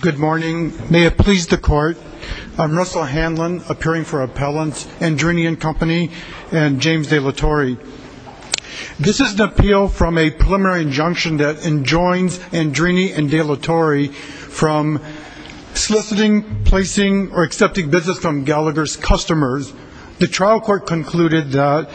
Good morning. May it please the court. I'm Russell Hanlon, appearing for Appellants, Andrini and Company, and James De La Torre. This is an appeal from a preliminary injunction that enjoins Andrini and De La Torre from soliciting, placing, or accepting business from Gallagher's customers. The trial court concluded that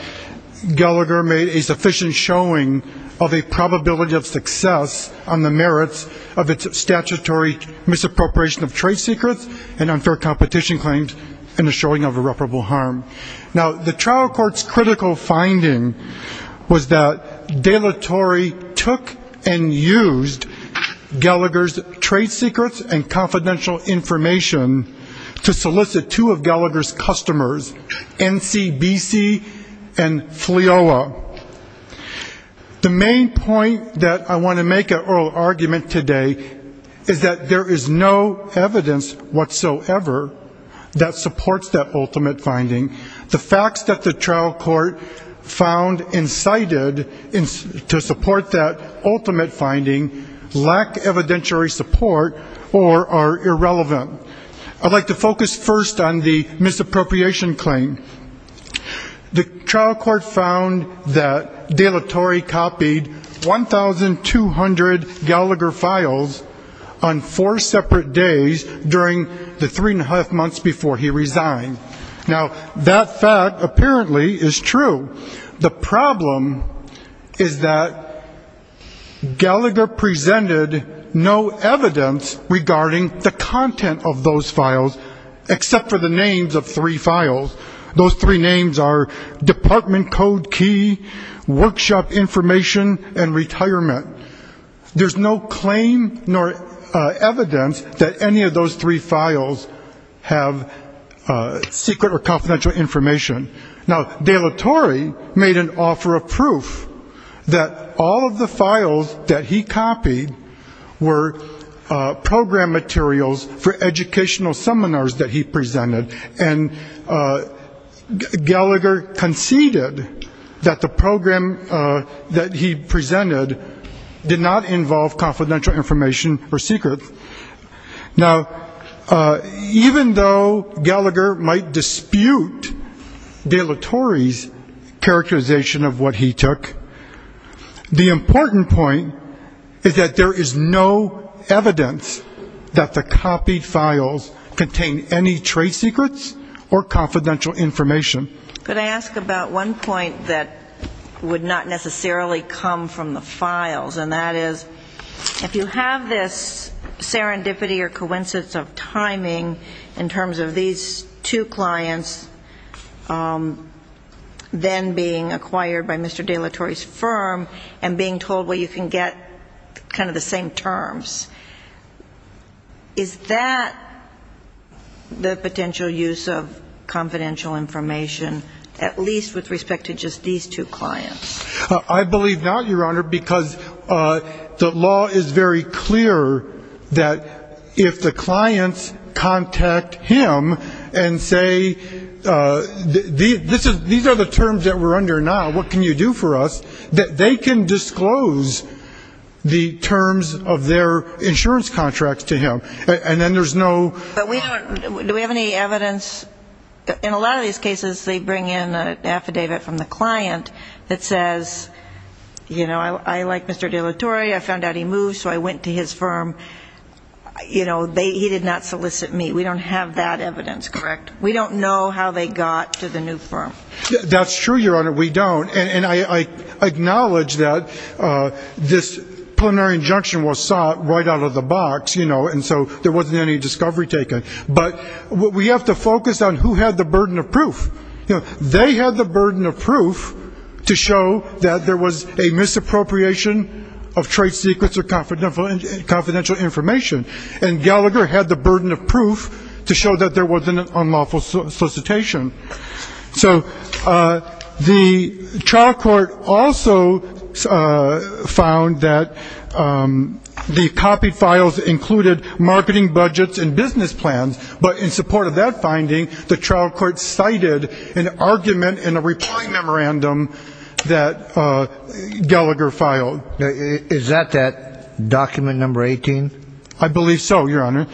Gallagher made a sufficient showing of a probability of success on the merits of its statutory misappropriation of trade secrets and unfair competition claims and the showing of irreparable harm. Now, the trial court's critical finding was that De La Torre took and used Gallagher's trade secrets and confidential information to solicit two of Gallagher's customers, NCBC and FLIOA. The main point that I want to make at oral argument today is that there is no evidence whatsoever that supports that ultimate finding. The facts that the trial court found incited to support that ultimate finding lack evidentiary support or are irrelevant. I'd like to focus first on the misappropriation claim. The trial court found that De La Torre copied 1,200 Gallagher files on four separate days during the three and a half months before he resigned. Now, that fact apparently is true. The problem is that Gallagher presented no evidence regarding the content of those files, except for the names of three files. Those three names are department code key, workshop information, and retirement. There's no claim nor evidence that any of those three files have secret or confidential information. Now, De La Torre made an offer of proof that all of the files that he copied were program materials for educational seminars that he presented. And Gallagher conceded that the program that he presented did not involve confidential information or secrets. Now, even though Gallagher might dispute De La Torre's characterization of what he took, the important point is that there is no evidence that the copied files contain any trade secrets or confidential information. Could I ask about one point that would not necessarily come from the files, and that is, if you have this serendipity or coincidence of timing in terms of these two clients then being acquired by Mr. De La Torre's firm and being told, well, you can get kind of the same terms, is that the potential use case? I believe not, Your Honor, because the law is very clear that if the clients contact him and say, these are the terms that we're under now, what can you do for us, that they can disclose the terms of their insurance contracts to him. And then there's no question about that. But do we have any evidence? In a lot of these cases they bring in an affidavit from the client that says, you know, I like Mr. De La Torre, I found out he moved, so I went to his firm. You know, he did not solicit me. We don't have that evidence, correct? We don't know how they got to the new firm. That's true, Your Honor, we don't. And I acknowledge that this preliminary injunction was sought right out of the box, you know, and so there wasn't any discovery taken. But we have to focus on who had the burden of proof. You know, they had the burden of proof to show that there was a misappropriation of trade secrets or confidential information. And Gallagher had the burden of proof to show that there wasn't an unlawful solicitation. So the trial court also found that the copy files included marketing budgets and business plans, but in support of that finding, the trial court cited an argument in a reply memorandum that Gallagher filed. Is that that document number 18? I believe so, Your Honor.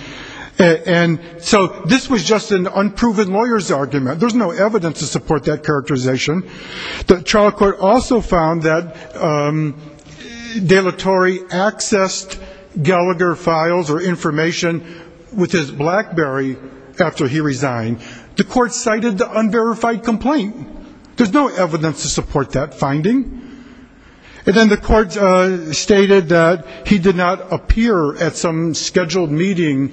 And so this was just an unproven lawyer's argument. There's no evidence to support that characterization. The trial court also found that De La Torre accessed Gallagher files or information with his BlackBerry after he resigned. The court cited the unverified complaint. There's no evidence to support that finding. And then the court stated that he did not appear at some scheduled meeting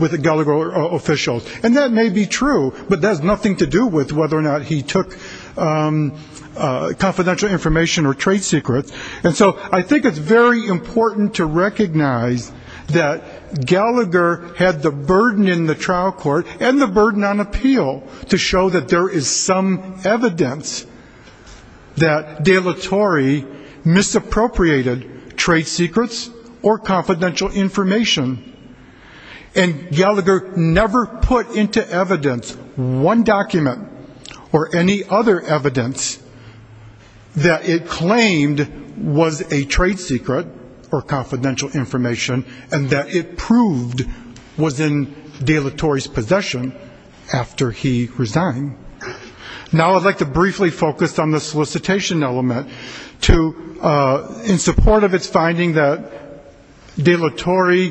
with a Gallagher official. And that may be true, but that has nothing to do with whether or not he took confidential information or trade secrets. And so I think it's very important to recognize that Gallagher had the burden in the trial court and the burden on appeal to show that there is some evidence that De La Torre misappropriated trade secrets or confidential information. And Gallagher never put into evidence one document or any other evidence that it claimed was a trade secret or confidential information and that it proved was in De La Torre's possession after he resigned. Now I'd like to briefly focus on the solicitation element. In support of its finding that De La Torre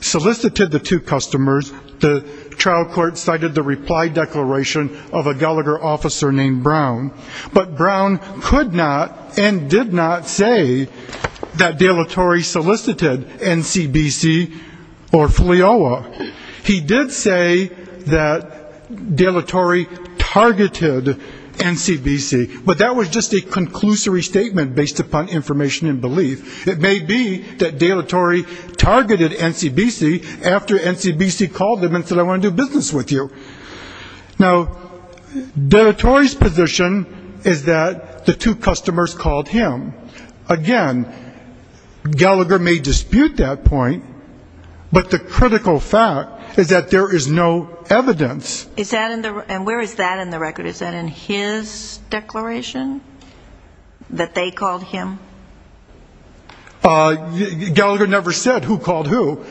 solicited the two customers, the trial court cited the reply declaration of a Gallagher officer named Brown. But Brown could not and did not say that De La Torre solicited NCBC or FLIOA. He did say that De La Torre targeted NCBC. But that was just a conclusory statement based upon information and belief. It may be that De La Torre targeted NCBC after NCBC called him and said I want to do business with you. Now, De La Torre's position is that the two customers called him. Again, Gallagher may dispute that point, but the critical fact is that there is no evidence. And where is that in the record? Is that in his declaration? That they called him? Gallagher never said who called who.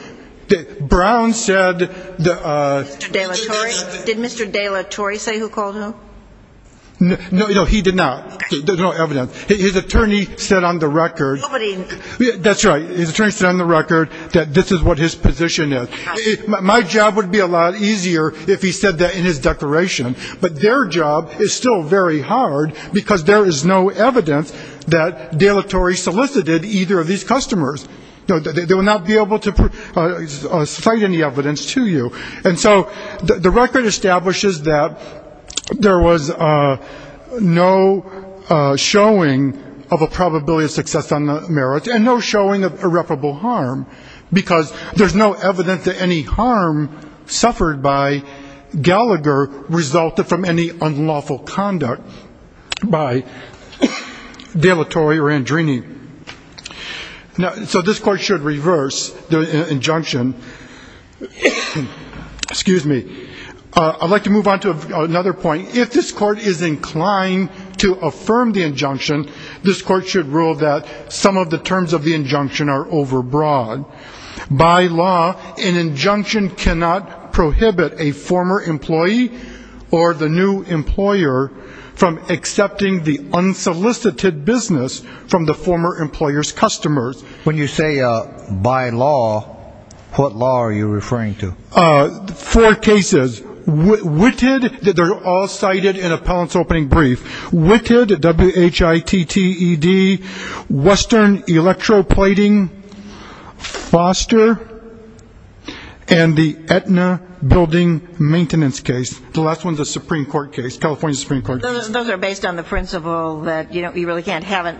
Brown said that... Did Mr. De La Torre say who called who? No, he did not. There's no evidence. His attorney said on the record... Nobody... That's right. His attorney said on the record that this is what his position is. My job would be a lot easier if he said that in his declaration. But their job is still very hard, because there is no evidence that De La Torre solicited either of these customers. They will not be able to cite any evidence to you. And so the record establishes that there was no showing of a probability of success on the merits and no showing of irreparable harm, because there's no evidence that any harm suffered by Gallagher resulted from any unlawful conduct by De La Torre or Andrini. So this court should reverse the injunction. Excuse me. I'd like to move on to another point. If this court is inclined to affirm the injunction, this court should rule that some of the terms of the injunction are overbroad. By law, an injunction cannot prohibit a former employee or the new employer from accepting the unsolicited business from the former employer's customers. When you say by law, what law are you referring to? Four cases. Witted, they're all cited in appellant's opening brief. Witted, W-H-I-T-T-E-D, Western Electroplating Foster, and the Aetna Building Maintenance case. The last one's a Supreme Court case, California Supreme Court case. Those are based on the principle that you really can't have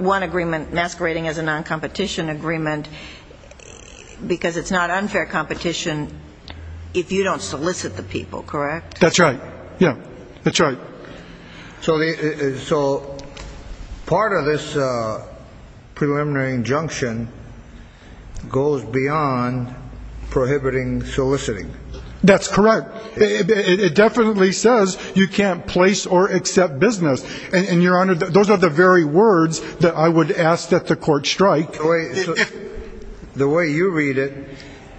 one agreement masquerading as a noncompetition agreement, because it's not unfair competition if you don't solicit the people, correct? That's right. Yeah, that's right. So part of this preliminary injunction goes beyond prohibiting soliciting. That's correct. It definitely says you can't place or accept business, and your honor, those are the very words that I would ask that the court strike. The way you read it,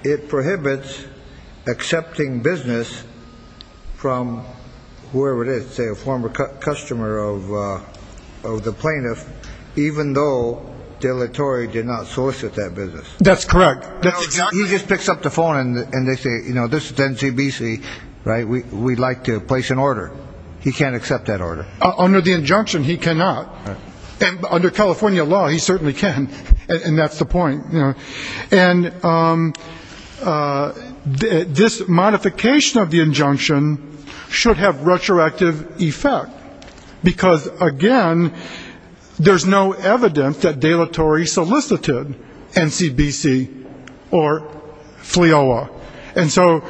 it prohibits accepting business from whoever it is, say a former customer of the plaintiff, even though deletory did not solicit that business. That's correct. He just picks up the phone and they say, you know, this is NCBC, right, we'd like to place an order. He can't accept that order. Under the injunction, he cannot. And under California law, he certainly can, and that's the point. And this modification of the injunction should have retroactive effect, because, again, there's no evidence that deletory solicited NCBC or FLIOA. And so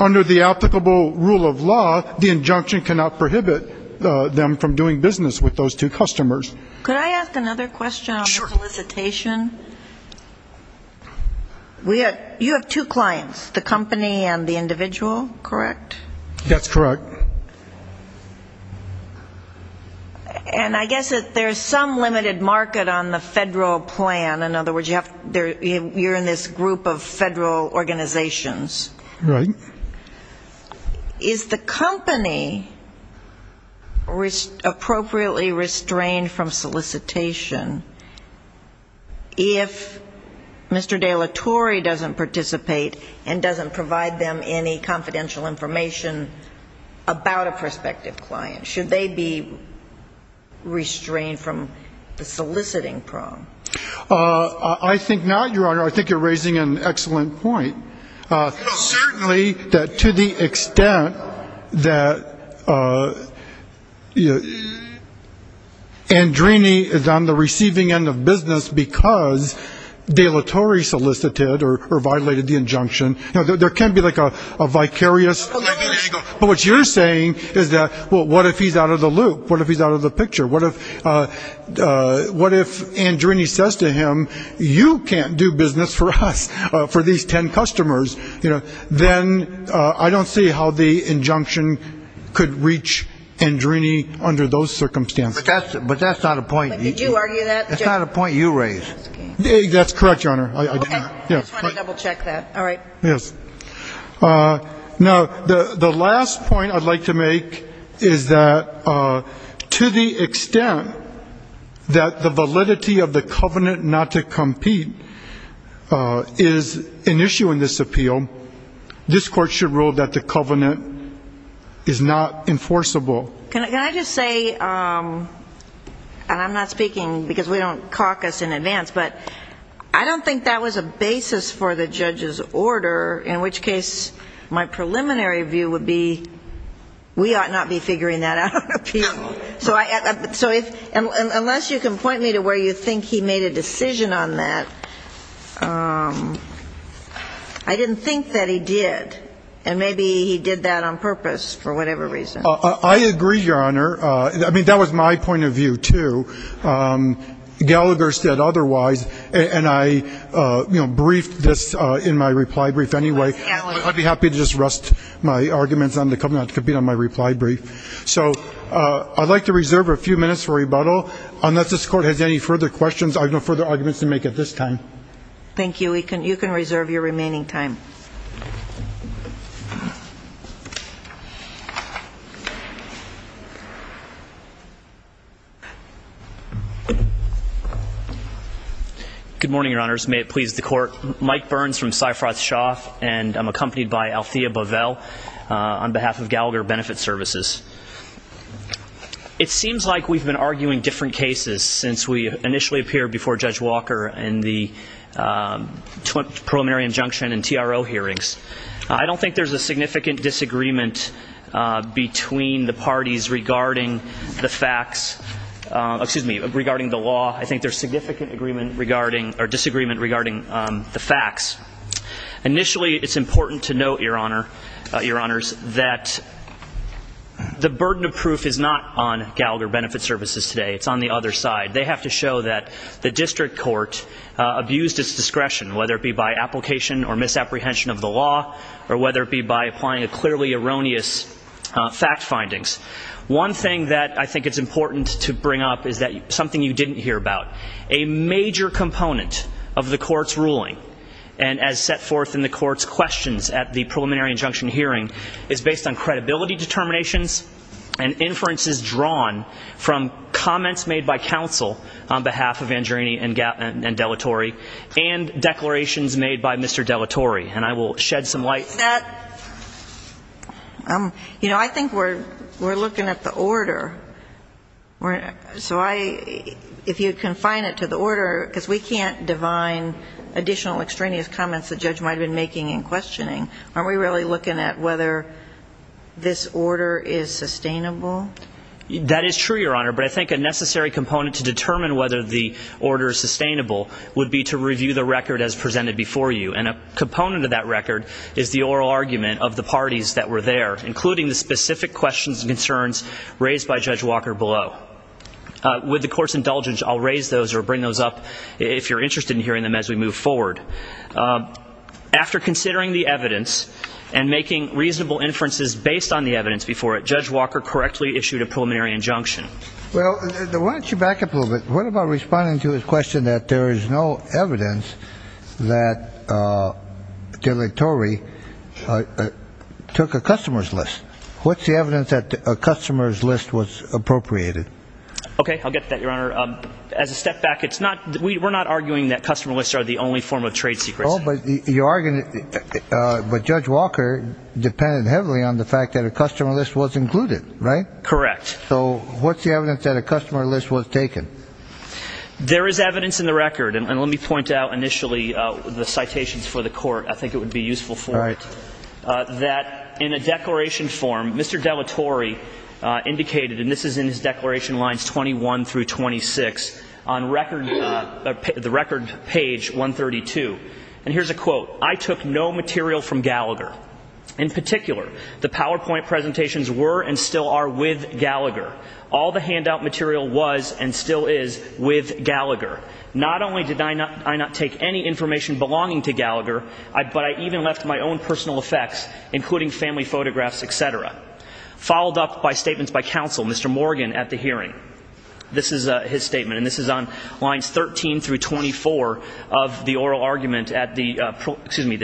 under the applicable rule of law, the injunction cannot prohibit them from doing business with those two customers. Could I ask another question on the solicitation? Sure. You have two clients, the company and the individual, correct? That's correct. And I guess there's some limited market on the federal plan. In other words, you're in this group of federal organizations. Right. Is the company appropriately restrained from solicitation if Mr. Deletory doesn't participate and doesn't provide them any confidential information about a prospective client? Should they be restrained from the soliciting problem? I think not, Your Honor. I think you're raising an excellent point. Certainly that to the extent that Andrini is on the receiving end of business because Deletory solicited or violated the injunction, now, there can be like a vicarious, but what you're saying is that, well, what if he's out of the loop? What if he's out of the picture? What if Andrini says to him, you can't do business for us, for these ten customers, then I don't see how the injunction could reach Andrini under those circumstances. But that's not a point. Did you argue that? That's not a point you raised. That's correct, Your Honor. I just want to double check that. All right. Yes. Now, the last point I'd like to make is that to the extent that the validity of the covenant not to compete is an issue in this appeal, this Court should rule that the covenant is not enforceable. Can I just say, and I'm not speaking because we don't caucus in advance, but I don't think that was a basis for the judge's order, in which case my preliminary view would be we ought not be figuring that out. So unless you can point me to where you think he made a decision on that, I didn't think that he did, and maybe he did that on purpose for whatever reason. I agree, Your Honor. I mean, that was my point of view, too. Gallagher said otherwise, and I briefed this in my reply brief anyway. I'd be happy to just rest my arguments on the covenant not to compete on my reply brief. So I'd like to reserve a few minutes for rebuttal. Unless this Court has any further questions, I have no further arguments to make at this time. Thank you. You can reserve your remaining time. Good morning, Your Honors. May it please the Court. Mike Burns from Seyfroth-Shaw, and I'm accompanied by Althea Bovell on behalf of Gallagher Benefit Services. It seems like we've been arguing different cases since we initially appeared before Judge Walker in the preliminary injunction and TRO hearings. I don't think there's a significant disagreement between the parties regarding the facts, excuse me, regarding the law. I think there's significant disagreement regarding the facts. Initially, it's important to note, Your Honors, that the burden of proof is not on Gallagher Benefit Services today. It's on the other side. They have to show that the district court abused its discretion, whether it be by application or misapprehension of the law, or whether it be by applying clearly erroneous fact findings. One thing that I think it's important to bring up is something you didn't hear about. A major component of the Court's ruling, and as set forth in the Court's questions at the preliminary injunction hearing, is based on credibility determinations and inferences drawn from comments made by counsel on behalf of Angiolini and Dellatori and declarations made by Mr. Dellatori. And I will shed some light on that. You know, I think we're looking at the order. So if you confine it to the order, because we can't divine additional extraneous comments the judge might have been making and questioning, aren't we really looking at whether this order is sustainable? That is true, Your Honor. But I think a necessary component to determine whether the order is sustainable would be to review the record as presented before you. And a component of that record is the oral argument of the parties that were there, including the specific questions and concerns raised by Judge Walker below. With the Court's indulgence, I'll raise those or bring those up if you're interested in hearing them as we move forward. After considering the evidence and making reasonable inferences based on the evidence before it, Judge Walker correctly issued a preliminary injunction. Well, why don't you back up a little bit? What about responding to his question that there is no evidence that Dellatori took a customer's list? What's the evidence that a customer's list was appropriated? Okay, I'll get to that, Your Honor. As a step back, we're not arguing that customer lists are the only form of trade secrecy. But Judge Walker depended heavily on the fact that a customer list was included, right? Correct. So what's the evidence that a customer list was taken? There is evidence in the record, and let me point out initially the citations for the Court, I think it would be useful for it, that in a declaration form, Mr. Dellatori indicated, and this is in his declaration lines 21 through 26, on the record page 132. And here's a quote. I took no material from Gallagher. In particular, the PowerPoint presentations were and still are with Gallagher. All the handout material was and still is with Gallagher. Not only did I not take any information belonging to Gallagher, but I even left my own personal effects, including family photographs, et cetera. Followed up by statements by counsel, Mr. Morgan, at the hearing. This is his statement, and this is on lines 13 through 24 of the oral argument at the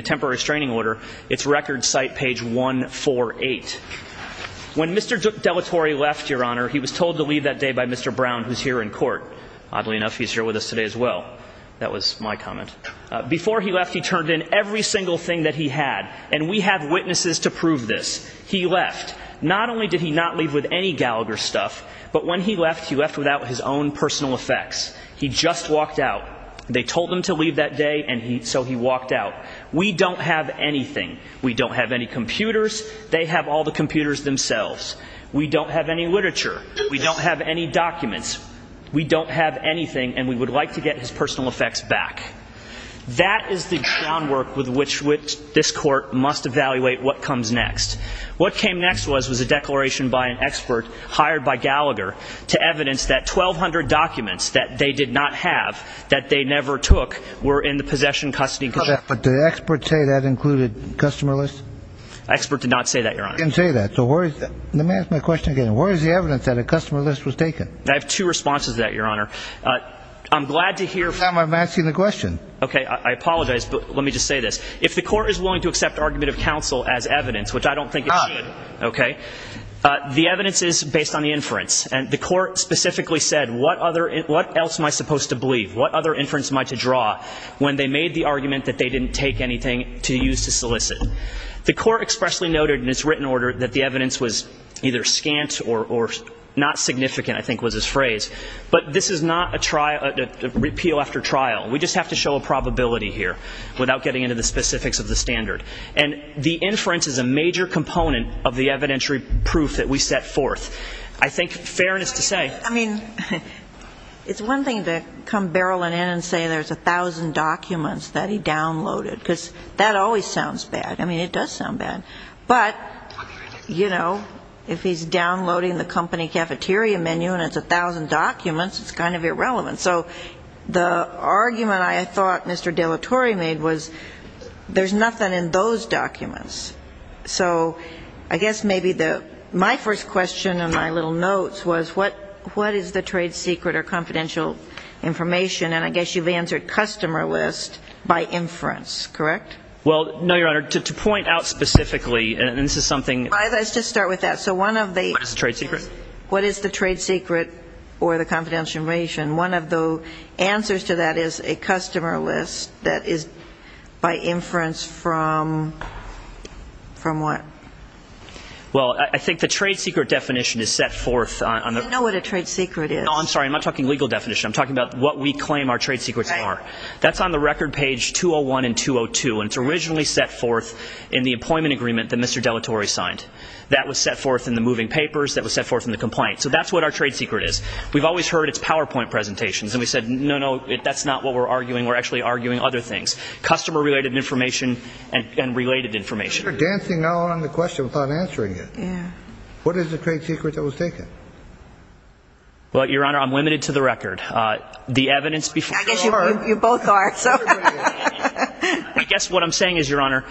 temporary restraining order. It's record site page 148. When Mr. Dellatori left, Your Honor, he was told to leave that day by Mr. Brown, who's here in court. Oddly enough, he's here with us today as well. That was my comment. Before he left, he turned in every single thing that he had, and we have witnesses to prove this. He left. Not only did he not leave with any Gallagher stuff, but when he left, he left without his own personal effects. He just walked out. They told him to leave that day, and so he walked out. We don't have anything. We don't have any computers. They have all the computers themselves. We don't have any literature. We don't have any documents. We don't have anything, and we would like to get his personal effects back. That is the groundwork with which this court must evaluate what comes next. What came next was a declaration by an expert hired by Gallagher to evidence that 1,200 documents that they did not have, that they never took, were in the possession, custody, and custody. But did the expert say that included customer lists? The expert did not say that, Your Honor. He didn't say that. So where is that? Let me ask my question again. Where is the evidence that a customer list was taken? I have two responses to that, Your Honor. I'm glad to hear. I'm asking the question. Okay. I apologize, but let me just say this. If the court is willing to accept argument of counsel as evidence, which I don't think it should, okay, the evidence is based on the inference, and the court specifically said, what else am I supposed to believe? What other inference am I to draw when they made the argument that they didn't take anything to use to solicit? The court expressly noted in its written order that the evidence was either scant or not significant, I think was his phrase. But this is not a repeal after trial. We just have to show a probability here without getting into the specifics of the standard. And the inference is a major component of the evidentiary proof that we set forth. I think, fairness to say ---- I mean, it's one thing to come barreling in and say there's 1,000 documents that he downloaded, because that always sounds bad. I mean, it does sound bad. But, you know, if he's downloading the company cafeteria menu and it's 1,000 documents, it's kind of irrelevant. So the argument I thought Mr. De La Torre made was there's nothing in those documents. So I guess maybe my first question in my little notes was what is the trade secret or confidential information? And I guess you've answered customer list by inference, correct? Well, no, Your Honor. To point out specifically, and this is something ---- Let's just start with that. So one of the ---- What is the trade secret? What is the trade secret or the confidential information? One of the answers to that is a customer list that is by inference from what? Well, I think the trade secret definition is set forth on the ---- You know what a trade secret is. Oh, I'm sorry. I'm not talking legal definition. I'm talking about what we claim our trade secrets are. That's on the record page 201 and 202. And it's originally set forth in the employment agreement that Mr. De La Torre signed. That was set forth in the moving papers. That was set forth in the complaint. So that's what our trade secret is. We've always heard it's PowerPoint presentations. And we said, no, no, that's not what we're arguing. We're actually arguing other things. Customer related information and related information. You're dancing on the question without answering it. Yeah. What is the trade secret that was taken? Well, Your Honor, I'm limited to the record. The evidence before ---- I guess you both are. I guess what I'm saying is, Your Honor,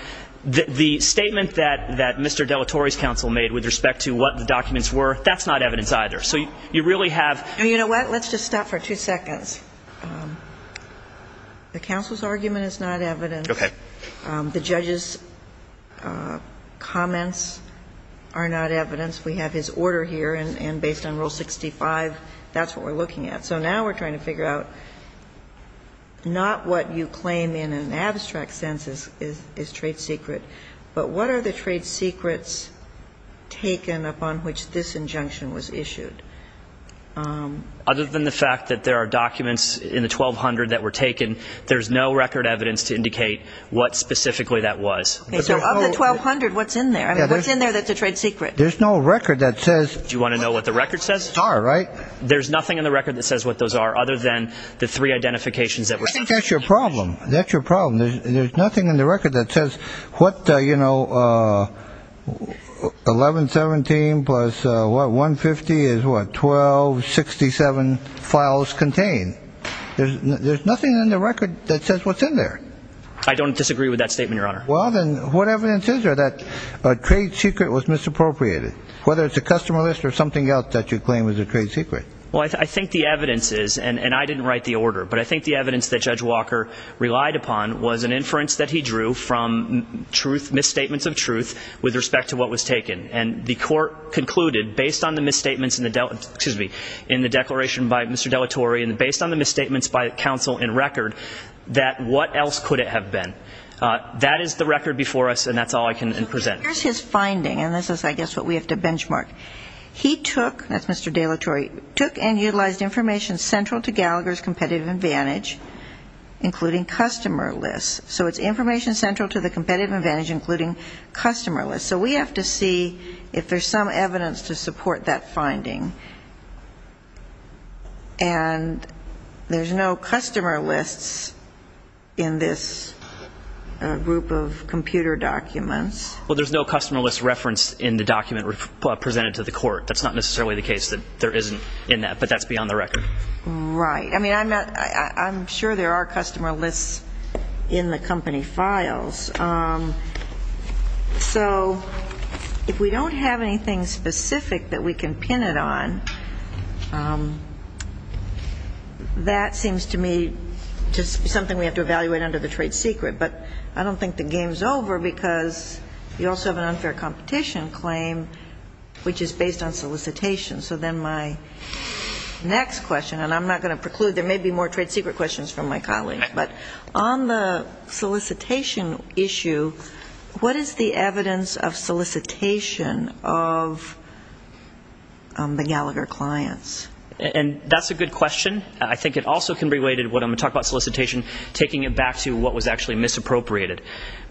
the statement that Mr. De La Torre's counsel made with respect to what the documents were, that's not evidence either. So you really have ---- You know what? Let's just stop for two seconds. The counsel's argument is not evidence. Okay. The judge's comments are not evidence. We have his order here, and based on Rule 65, that's what we're looking at. So now we're trying to figure out not what you claim in an abstract sense is trade secret, but what are the trade secrets taken upon which this injunction was issued? Other than the fact that there are documents in the 1200 that were taken, there's no record evidence to indicate what specifically that was. Okay. So of the 1200, what's in there? What's in there that's a trade secret? There's no record that says ---- Do you want to know what the record says? All right. There's nothing in the record that says what those are other than the three identifications that were ---- I think that's your problem. That's your problem. There's nothing in the record that says what, you know, 1117 plus 150 is what? 1267 files contained. There's nothing in the record that says what's in there. I don't disagree with that statement, Your Honor. Well, then, what evidence is there that a trade secret was misappropriated, whether it's a customer list or something else that you claim is a trade secret? Well, I think the evidence is, and I didn't write the order, but I think the evidence that Judge Walker relied upon was an inference that he drew from truth, misstatements of truth with respect to what was taken, and the court concluded based on the misstatements in the declaration by Mr. Dellatore and based on the misstatements by counsel in record that what else could it have been? That is the record before us, and that's all I can present. Here's his finding, and this is, I guess, what we have to benchmark. He took, that's Mr. Dellatore, took and utilized information central to Gallagher's competitive advantage, including customer lists. So it's information central to the competitive advantage, including customer lists. So we have to see if there's some evidence to support that finding. And there's no customer lists in this group of computer documents. Well, there's no customer list reference in the document presented to the court. That's not necessarily the case that there isn't in that, but that's beyond the record. Right. I mean, I'm sure there are customer lists in the company files. So if we don't have anything specific that we can pin it on, that seems to me just something we have to evaluate under the trade secret. But I don't think the game's over because you also have an unfair competition claim, which is based on solicitation. So then my next question, and I'm not going to preclude, there may be more trade secret questions from my colleagues, but on the solicitation issue, what is the evidence of solicitation of the Gallagher clients? And that's a good question. I think it also can be related to what I'm going to talk about solicitation, taking it back to what was actually misappropriated.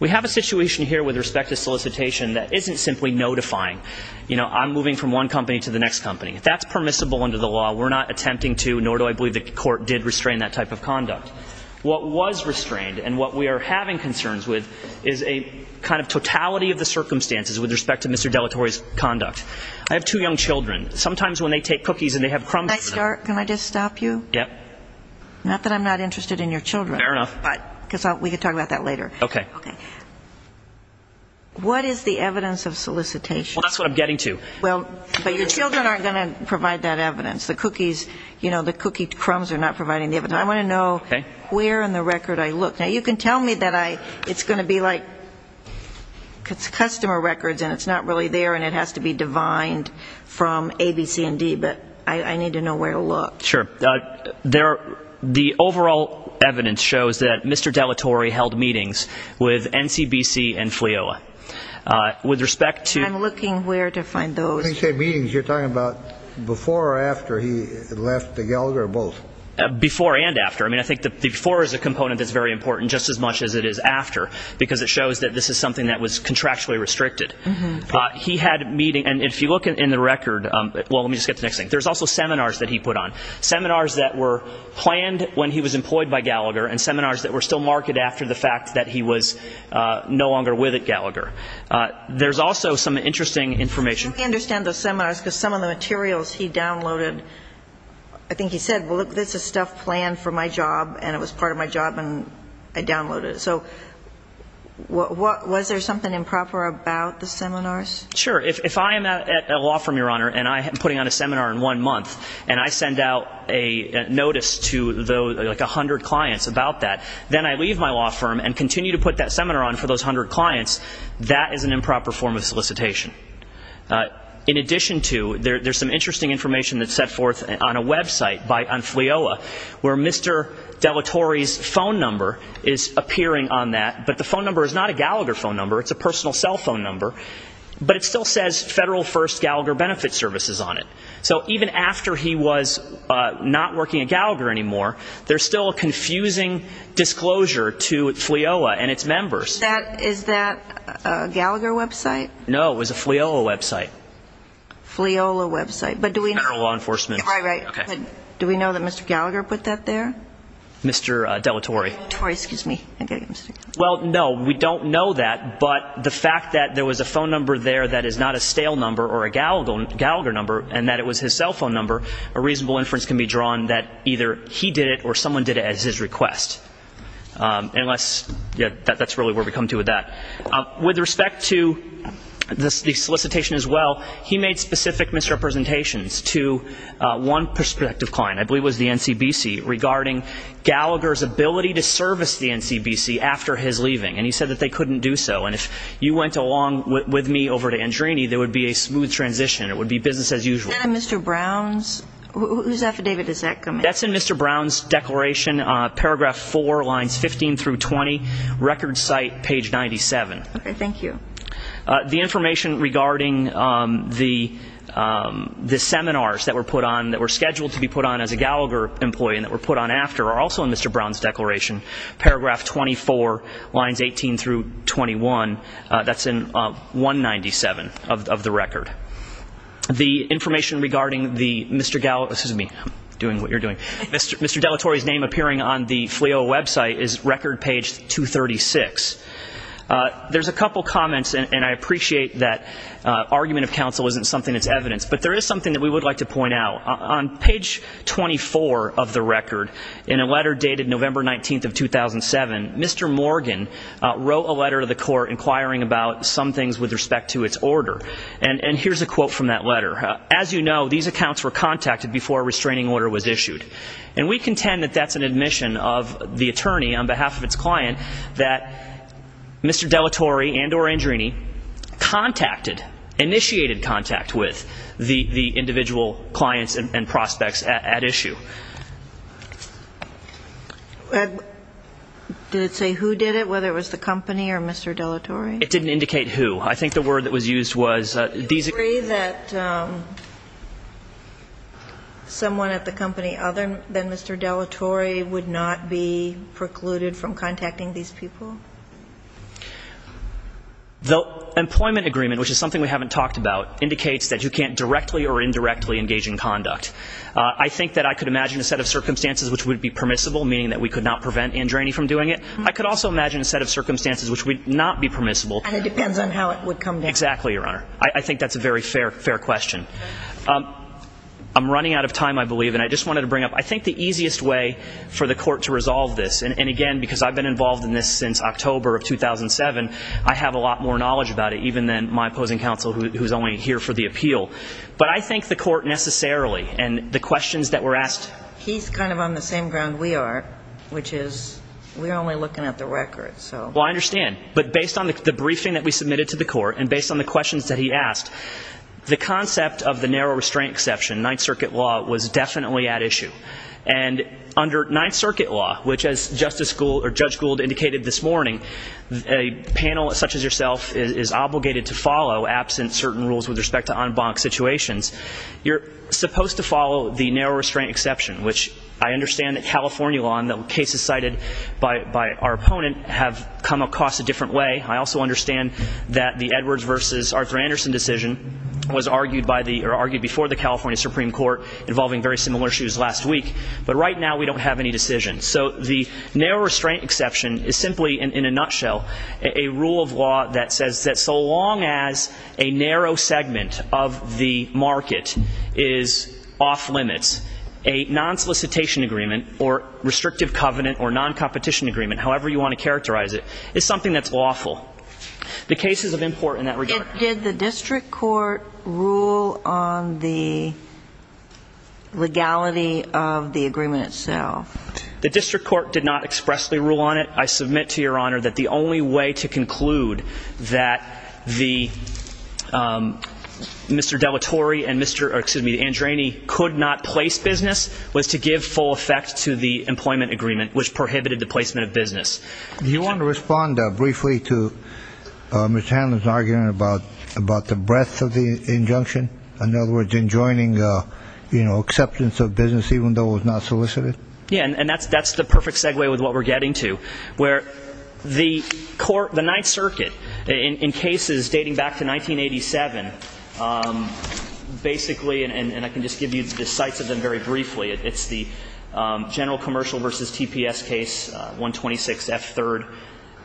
We have a situation here with respect to solicitation that isn't simply notifying. You know, I'm moving from one company to the next company. If that's permissible under the law, we're not attempting to, and nor do I believe the court did restrain that type of conduct. What was restrained and what we are having concerns with is a kind of totality of the circumstances with respect to Mr. Dellatore's conduct. I have two young children. Sometimes when they take cookies and they have crumbs for them. Can I just stop you? Yep. Not that I'm not interested in your children. Fair enough. Because we can talk about that later. Okay. Okay. What is the evidence of solicitation? Well, that's what I'm getting to. Well, but your children aren't going to provide that evidence. The cookies, you know, the cookie crumbs are not providing the evidence. I want to know where in the record I look. Now, you can tell me that it's going to be like customer records and it's not really there and it has to be divined from A, B, C, and D, but I need to know where to look. Sure. The overall evidence shows that Mr. Dellatore held meetings with NCBC and FLIOA. With respect to ñ I'm looking where to find those. When you say meetings, you're talking about before or after he left Gallagher or both? Before and after. I mean, I think the before is a component that's very important just as much as it is after because it shows that this is something that was contractually restricted. He had a meeting, and if you look in the record, well, let me just get to the next thing. There's also seminars that he put on, seminars that were planned when he was employed by Gallagher and seminars that were still marked after the fact that he was no longer with Gallagher. There's also some interesting information. I'm trying to understand those seminars because some of the materials he downloaded, I think he said, well, look, this is stuff planned for my job and it was part of my job and I downloaded it. So was there something improper about the seminars? Sure. If I am at a law firm, Your Honor, and I'm putting on a seminar in one month and I send out a notice to like 100 clients about that, then I leave my law firm and continue to put that seminar on for those 100 clients, that is an improper form of solicitation. In addition to, there's some interesting information that's set forth on a website on FLIOA where Mr. Dellatore's phone number is appearing on that, but the phone number is not a Gallagher phone number. It's a personal cell phone number, but it still says Federal First Gallagher Benefit Services on it. So even after he was not working at Gallagher anymore, there's still a confusing disclosure to FLIOA and its members. Is that a Gallagher website? No, it was a FLIOA website. FLIOA website. Federal law enforcement. Right, right. Do we know that Mr. Gallagher put that there? Mr. Dellatore. Dellatore, excuse me. Well, no, we don't know that, but the fact that there was a phone number there that is not a stale number or a Gallagher number and that it was his cell phone number, a reasonable inference can be drawn that either he did it or someone did it at his request. Unless, yeah, that's really where we come to with that. With respect to the solicitation as well, he made specific misrepresentations to one prospective client, I believe it was the NCBC, regarding Gallagher's ability to service the NCBC after his leaving, and he said that they couldn't do so. And if you went along with me over to Andrini, there would be a smooth transition. It would be business as usual. Is that in Mr. Brown's? Whose affidavit is that coming from? That's in Mr. Brown's declaration, paragraph 4, lines 15 through 20, record site page 97. Okay, thank you. The information regarding the seminars that were put on, that were scheduled to be put on as a Gallagher employee and that were put on after are also in Mr. Brown's declaration, paragraph 24, lines 18 through 21. That's in 197 of the record. The information regarding the Mr. Gallagher, excuse me, I'm doing what you're doing, Mr. Dellatore's name appearing on the FLEO website is record page 236. There's a couple comments, and I appreciate that argument of counsel isn't something that's evidenced, but there is something that we would like to point out. On page 24 of the record, in a letter dated November 19th of 2007, Mr. Morgan wrote a letter to the court inquiring about some things with respect to its order. And here's a quote from that letter. As you know, these accounts were contacted before a restraining order was issued. And we contend that that's an admission of the attorney on behalf of its client that Mr. Dellatore and or Andrini contacted, initiated contact with, the individual clients and prospects at issue. Did it say who did it, whether it was the company or Mr. Dellatore? It didn't indicate who. I think the word that was used was these. Do you agree that someone at the company other than Mr. Dellatore would not be precluded from contacting these people? The employment agreement, which is something we haven't talked about, indicates that you can't directly or indirectly engage in conduct. I think that I could imagine a set of circumstances which would be permissible, meaning that we could not prevent Andrini from doing it. I could also imagine a set of circumstances which would not be permissible. And it depends on how it would come down. Exactly, Your Honor. I think that's a very fair question. I'm running out of time, I believe, and I just wanted to bring up, I think the easiest way for the court to resolve this, and again because I've been involved in this since October of 2007, I have a lot more knowledge about it even than my opposing counsel, who's only here for the appeal. But I think the court necessarily and the questions that were asked. He's kind of on the same ground we are, which is we're only looking at the records. Well, I understand. But based on the briefing that we submitted to the court and based on the questions that he asked, the concept of the narrow restraint exception, Ninth Circuit law, was definitely at issue. And under Ninth Circuit law, which as Judge Gould indicated this morning, a panel such as yourself is obligated to follow, absent certain rules with respect to en banc situations, you're supposed to follow the narrow restraint exception, which I understand that California law and the cases cited by our opponent have come across a different way. I also understand that the Edwards versus Arthur Anderson decision was argued before the California Supreme Court involving very similar issues last week. But right now we don't have any decisions. So the narrow restraint exception is simply, in a nutshell, a rule of law that says that so long as a narrow segment of the market is off limits, a non-solicitation agreement or restrictive covenant or non-competition agreement, however you want to characterize it, is something that's lawful. The cases of import in that regard. Did the district court rule on the legality of the agreement itself? The district court did not expressly rule on it. I submit to Your Honor that the only way to conclude that Mr. Dellatore and Mr. Andrani could not place business was to give full effect to the employment agreement, which prohibited the placement of business. Do you want to respond briefly to Ms. Hanlon's argument about the breadth of the injunction? In other words, enjoining acceptance of business even though it was not solicited? Yeah, and that's the perfect segue with what we're getting to. The Ninth Circuit, in cases dating back to 1987, basically, and I can just give you the sites of them very briefly. It's the General Commercial v. TPS case, 126 F. 3rd,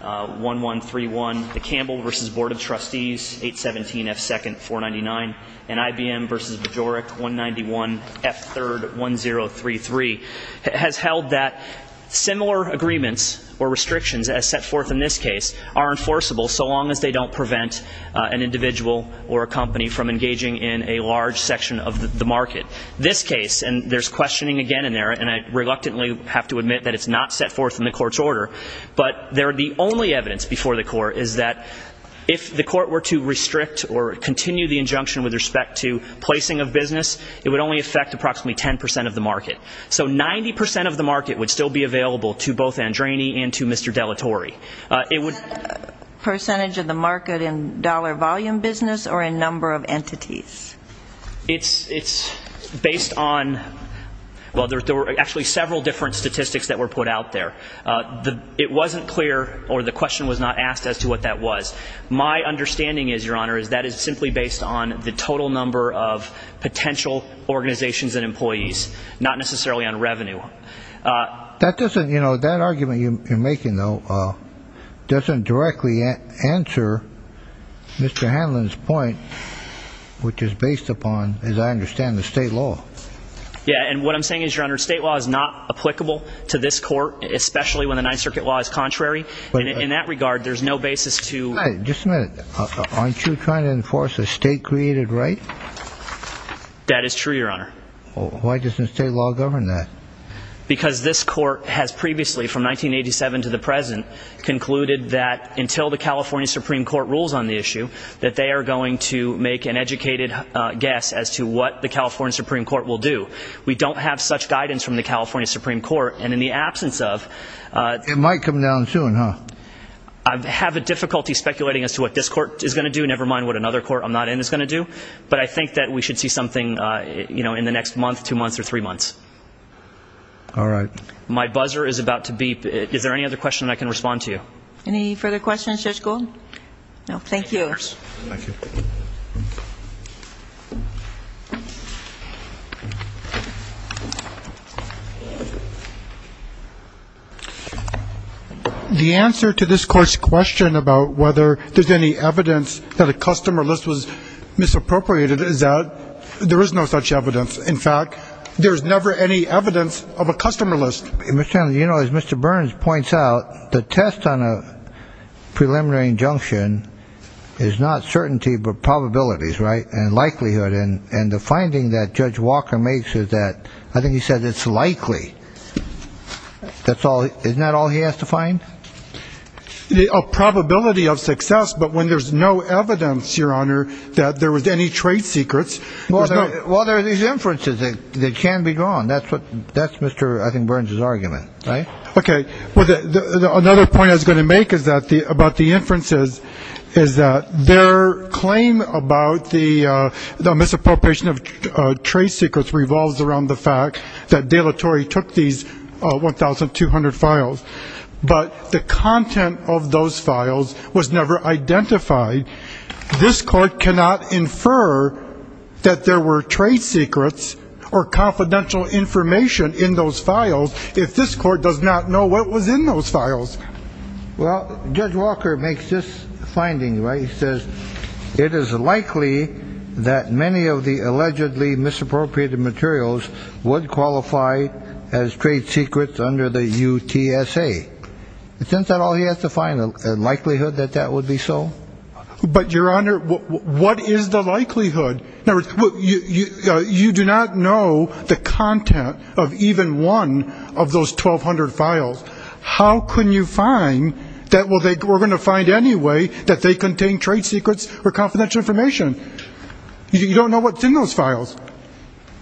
1131. The Campbell v. Board of Trustees, 817 F. 2nd, 499. And IBM v. Majorek, 191 F. 3rd, 1033. It has held that similar agreements or restrictions as set forth in this case are enforceable so long as they don't prevent an individual or a company from engaging in a large section of the market. This case, and there's questioning again in there, and I reluctantly have to admit that it's not set forth in the court's order, but the only evidence before the court is that if the court were to restrict or continue the injunction with respect to placing of business, it would only affect approximately 10 percent of the market. So 90 percent of the market would still be available to both Andrani and to Mr. Dellatore. Is that percentage of the market in dollar volume business or in number of entities? It's based on, well, there were actually several different statistics that were put out there. It wasn't clear, or the question was not asked as to what that was. My understanding is, Your Honor, is that it's simply based on the total number of potential organizations and employees, not necessarily on revenue. That doesn't, you know, that argument you're making, though, doesn't directly answer Mr. Hanlon's point, which is based upon, as I understand, the state law. Yeah, and what I'm saying is, Your Honor, state law is not applicable to this court, especially when the Ninth Circuit law is contrary. In that regard, there's no basis to. Just a minute. Aren't you trying to enforce a state-created right? That is true, Your Honor. Why doesn't state law govern that? Because this court has previously, from 1987 to the present, concluded that until the California Supreme Court rules on the issue, that they are going to make an educated guess as to what the California Supreme Court will do. We don't have such guidance from the California Supreme Court. And in the absence of. It might come down soon, huh? I have a difficulty speculating as to what this court is going to do, never mind what another court I'm not in is going to do. But I think that we should see something, you know, in the next month, two months, or three months. All right. My buzzer is about to beep. Is there any other question I can respond to? Any further questions, Judge Gold? No, thank you. Thank you. The answer to this court's question about whether there's any evidence that a customer list was misappropriated is that there is no such evidence. In fact, there is never any evidence of a customer list. You know, as Mr. Burns points out, the test on a preliminary injunction is not certainty, but probabilities, right? And likelihood. And the finding that Judge Walker makes is that I think he said it's likely. That's all. Isn't that all he has to find? A probability of success. But when there's no evidence, Your Honor, that there was any trade secrets. Well, there are these inferences that can be drawn. That's Mr. I think Burns' argument, right? Okay. Well, another point I was going to make about the inferences is that their claim about the misappropriation of trade secrets revolves around the fact that De La Torre took these 1,200 files, but the content of those files was never identified. This Court cannot infer that there were trade secrets or confidential information in those files if this Court does not know what was in those files. Well, Judge Walker makes this finding, right? He says it is likely that many of the allegedly misappropriated materials would qualify as trade secrets under the UTSA. Isn't that all he has to find, a likelihood that that would be so? But, Your Honor, what is the likelihood? You do not know the content of even one of those 1,200 files. How can you find that we're going to find anyway that they contain trade secrets or confidential information? You don't know what's in those files.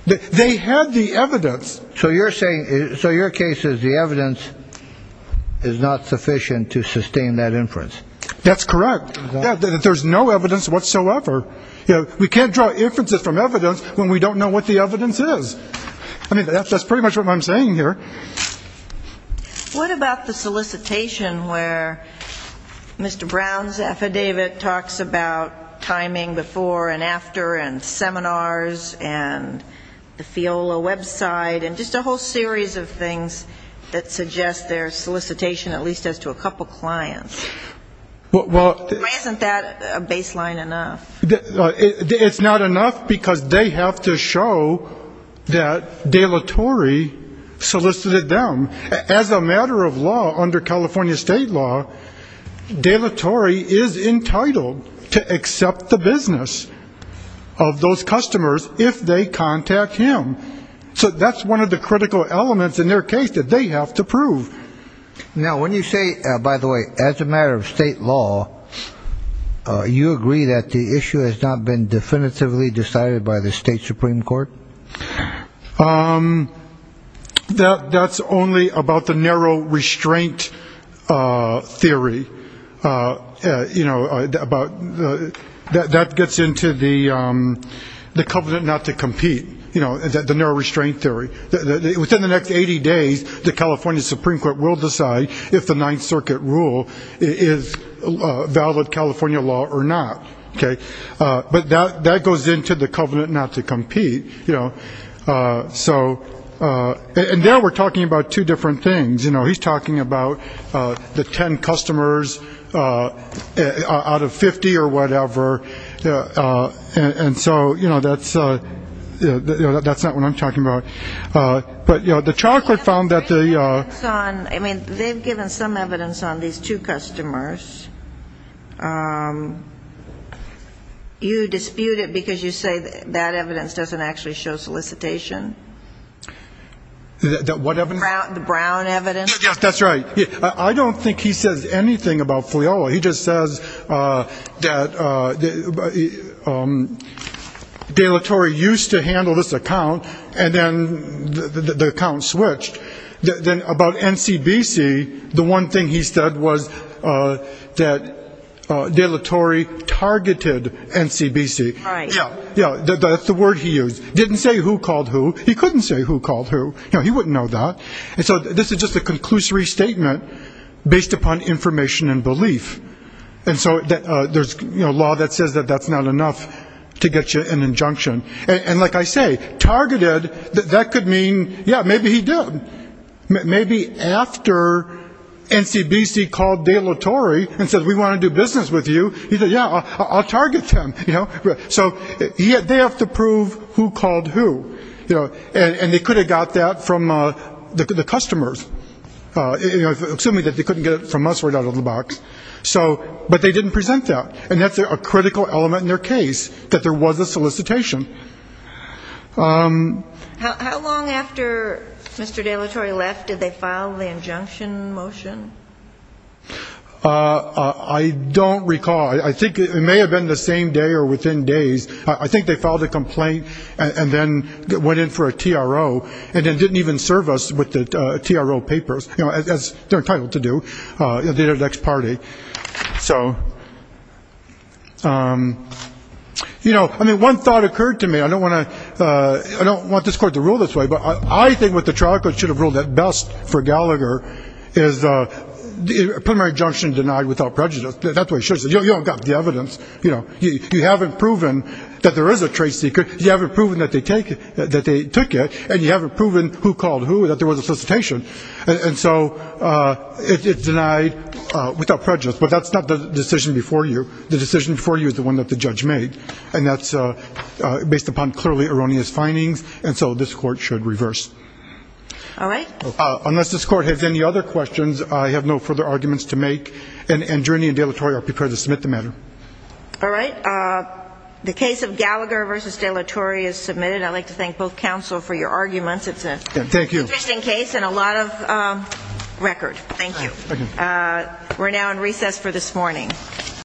They had the evidence. So you're saying so your case is the evidence is not sufficient to sustain that inference. That's correct. There's no evidence whatsoever. We can't draw inferences from evidence when we don't know what the evidence is. I mean, that's pretty much what I'm saying here. What about the solicitation where Mr. Brown's affidavit talks about timing before and after and seminars and the FIOLA website and just a whole series of things that suggest there's solicitation at least as to a couple clients? Isn't that a baseline enough? It's not enough because they have to show that De La Torre solicited them. As a matter of law under California state law, De La Torre is entitled to accept the business of those customers if they contact him. So that's one of the critical elements in their case that they have to prove. Now, when you say, by the way, as a matter of state law, you agree that the issue has not been definitively decided by the state Supreme Court? That's only about the narrow restraint theory. That gets into the covenant not to compete, the narrow restraint theory. Within the next 80 days, the California Supreme Court will decide if the Ninth Circuit rule is valid California law or not. But that goes into the covenant not to compete. And there we're talking about two different things. He's talking about the 10 customers out of 50 or whatever. And so, you know, that's not what I'm talking about. But, you know, the chocolate found that the ‑‑ I mean, they've given some evidence on these two customers. You dispute it because you say that evidence doesn't actually show solicitation? What evidence? The brown evidence. Yes, that's right. I don't think he says anything about Fliola. He just says that De La Torre used to handle this account, and then the account switched. Then about NCBC, the one thing he said was that De La Torre targeted NCBC. Right. Yeah. Yeah, that's the word he used. Didn't say who called who. He couldn't say who called who. You know, he wouldn't know that. And so this is just a conclusory statement based upon information and belief. And so there's law that says that that's not enough to get you an injunction. And like I say, targeted, that could mean, yeah, maybe he did. Maybe after NCBC called De La Torre and said, we want to do business with you, he said, yeah, I'll target them. So they have to prove who called who. And they could have got that from the customers, assuming that they couldn't get it from us right out of the box. But they didn't present that. And that's a critical element in their case, that there was a solicitation. How long after Mr. De La Torre left did they file the injunction motion? I don't recall. I think it may have been the same day or within days. I think they filed a complaint and then went in for a TRO and then didn't even serve us with the TRO papers, as they're entitled to do, the next party. So, you know, I mean, one thought occurred to me. I don't want to ‑‑ I don't want this court to rule this way, but I think what the trial court should have ruled at best for Gallagher is a preliminary injunction denied without prejudice. That's the way it should have been. You don't have the evidence. You haven't proven that there is a trade secret. You haven't proven that they took it. And you haven't proven who called who, that there was a solicitation. And so it's denied without prejudice. But that's not the decision before you. The decision before you is the one that the judge made. And that's based upon clearly erroneous findings. And so this court should reverse. All right. Unless this court has any other questions, I have no further arguments to make. And Jurnee and De La Torre are prepared to submit the matter. All right. The case of Gallagher v. De La Torre is submitted. I'd like to thank both counsel for your arguments. It's an interesting case and a lot of record. Thank you. We're now in recess for this morning.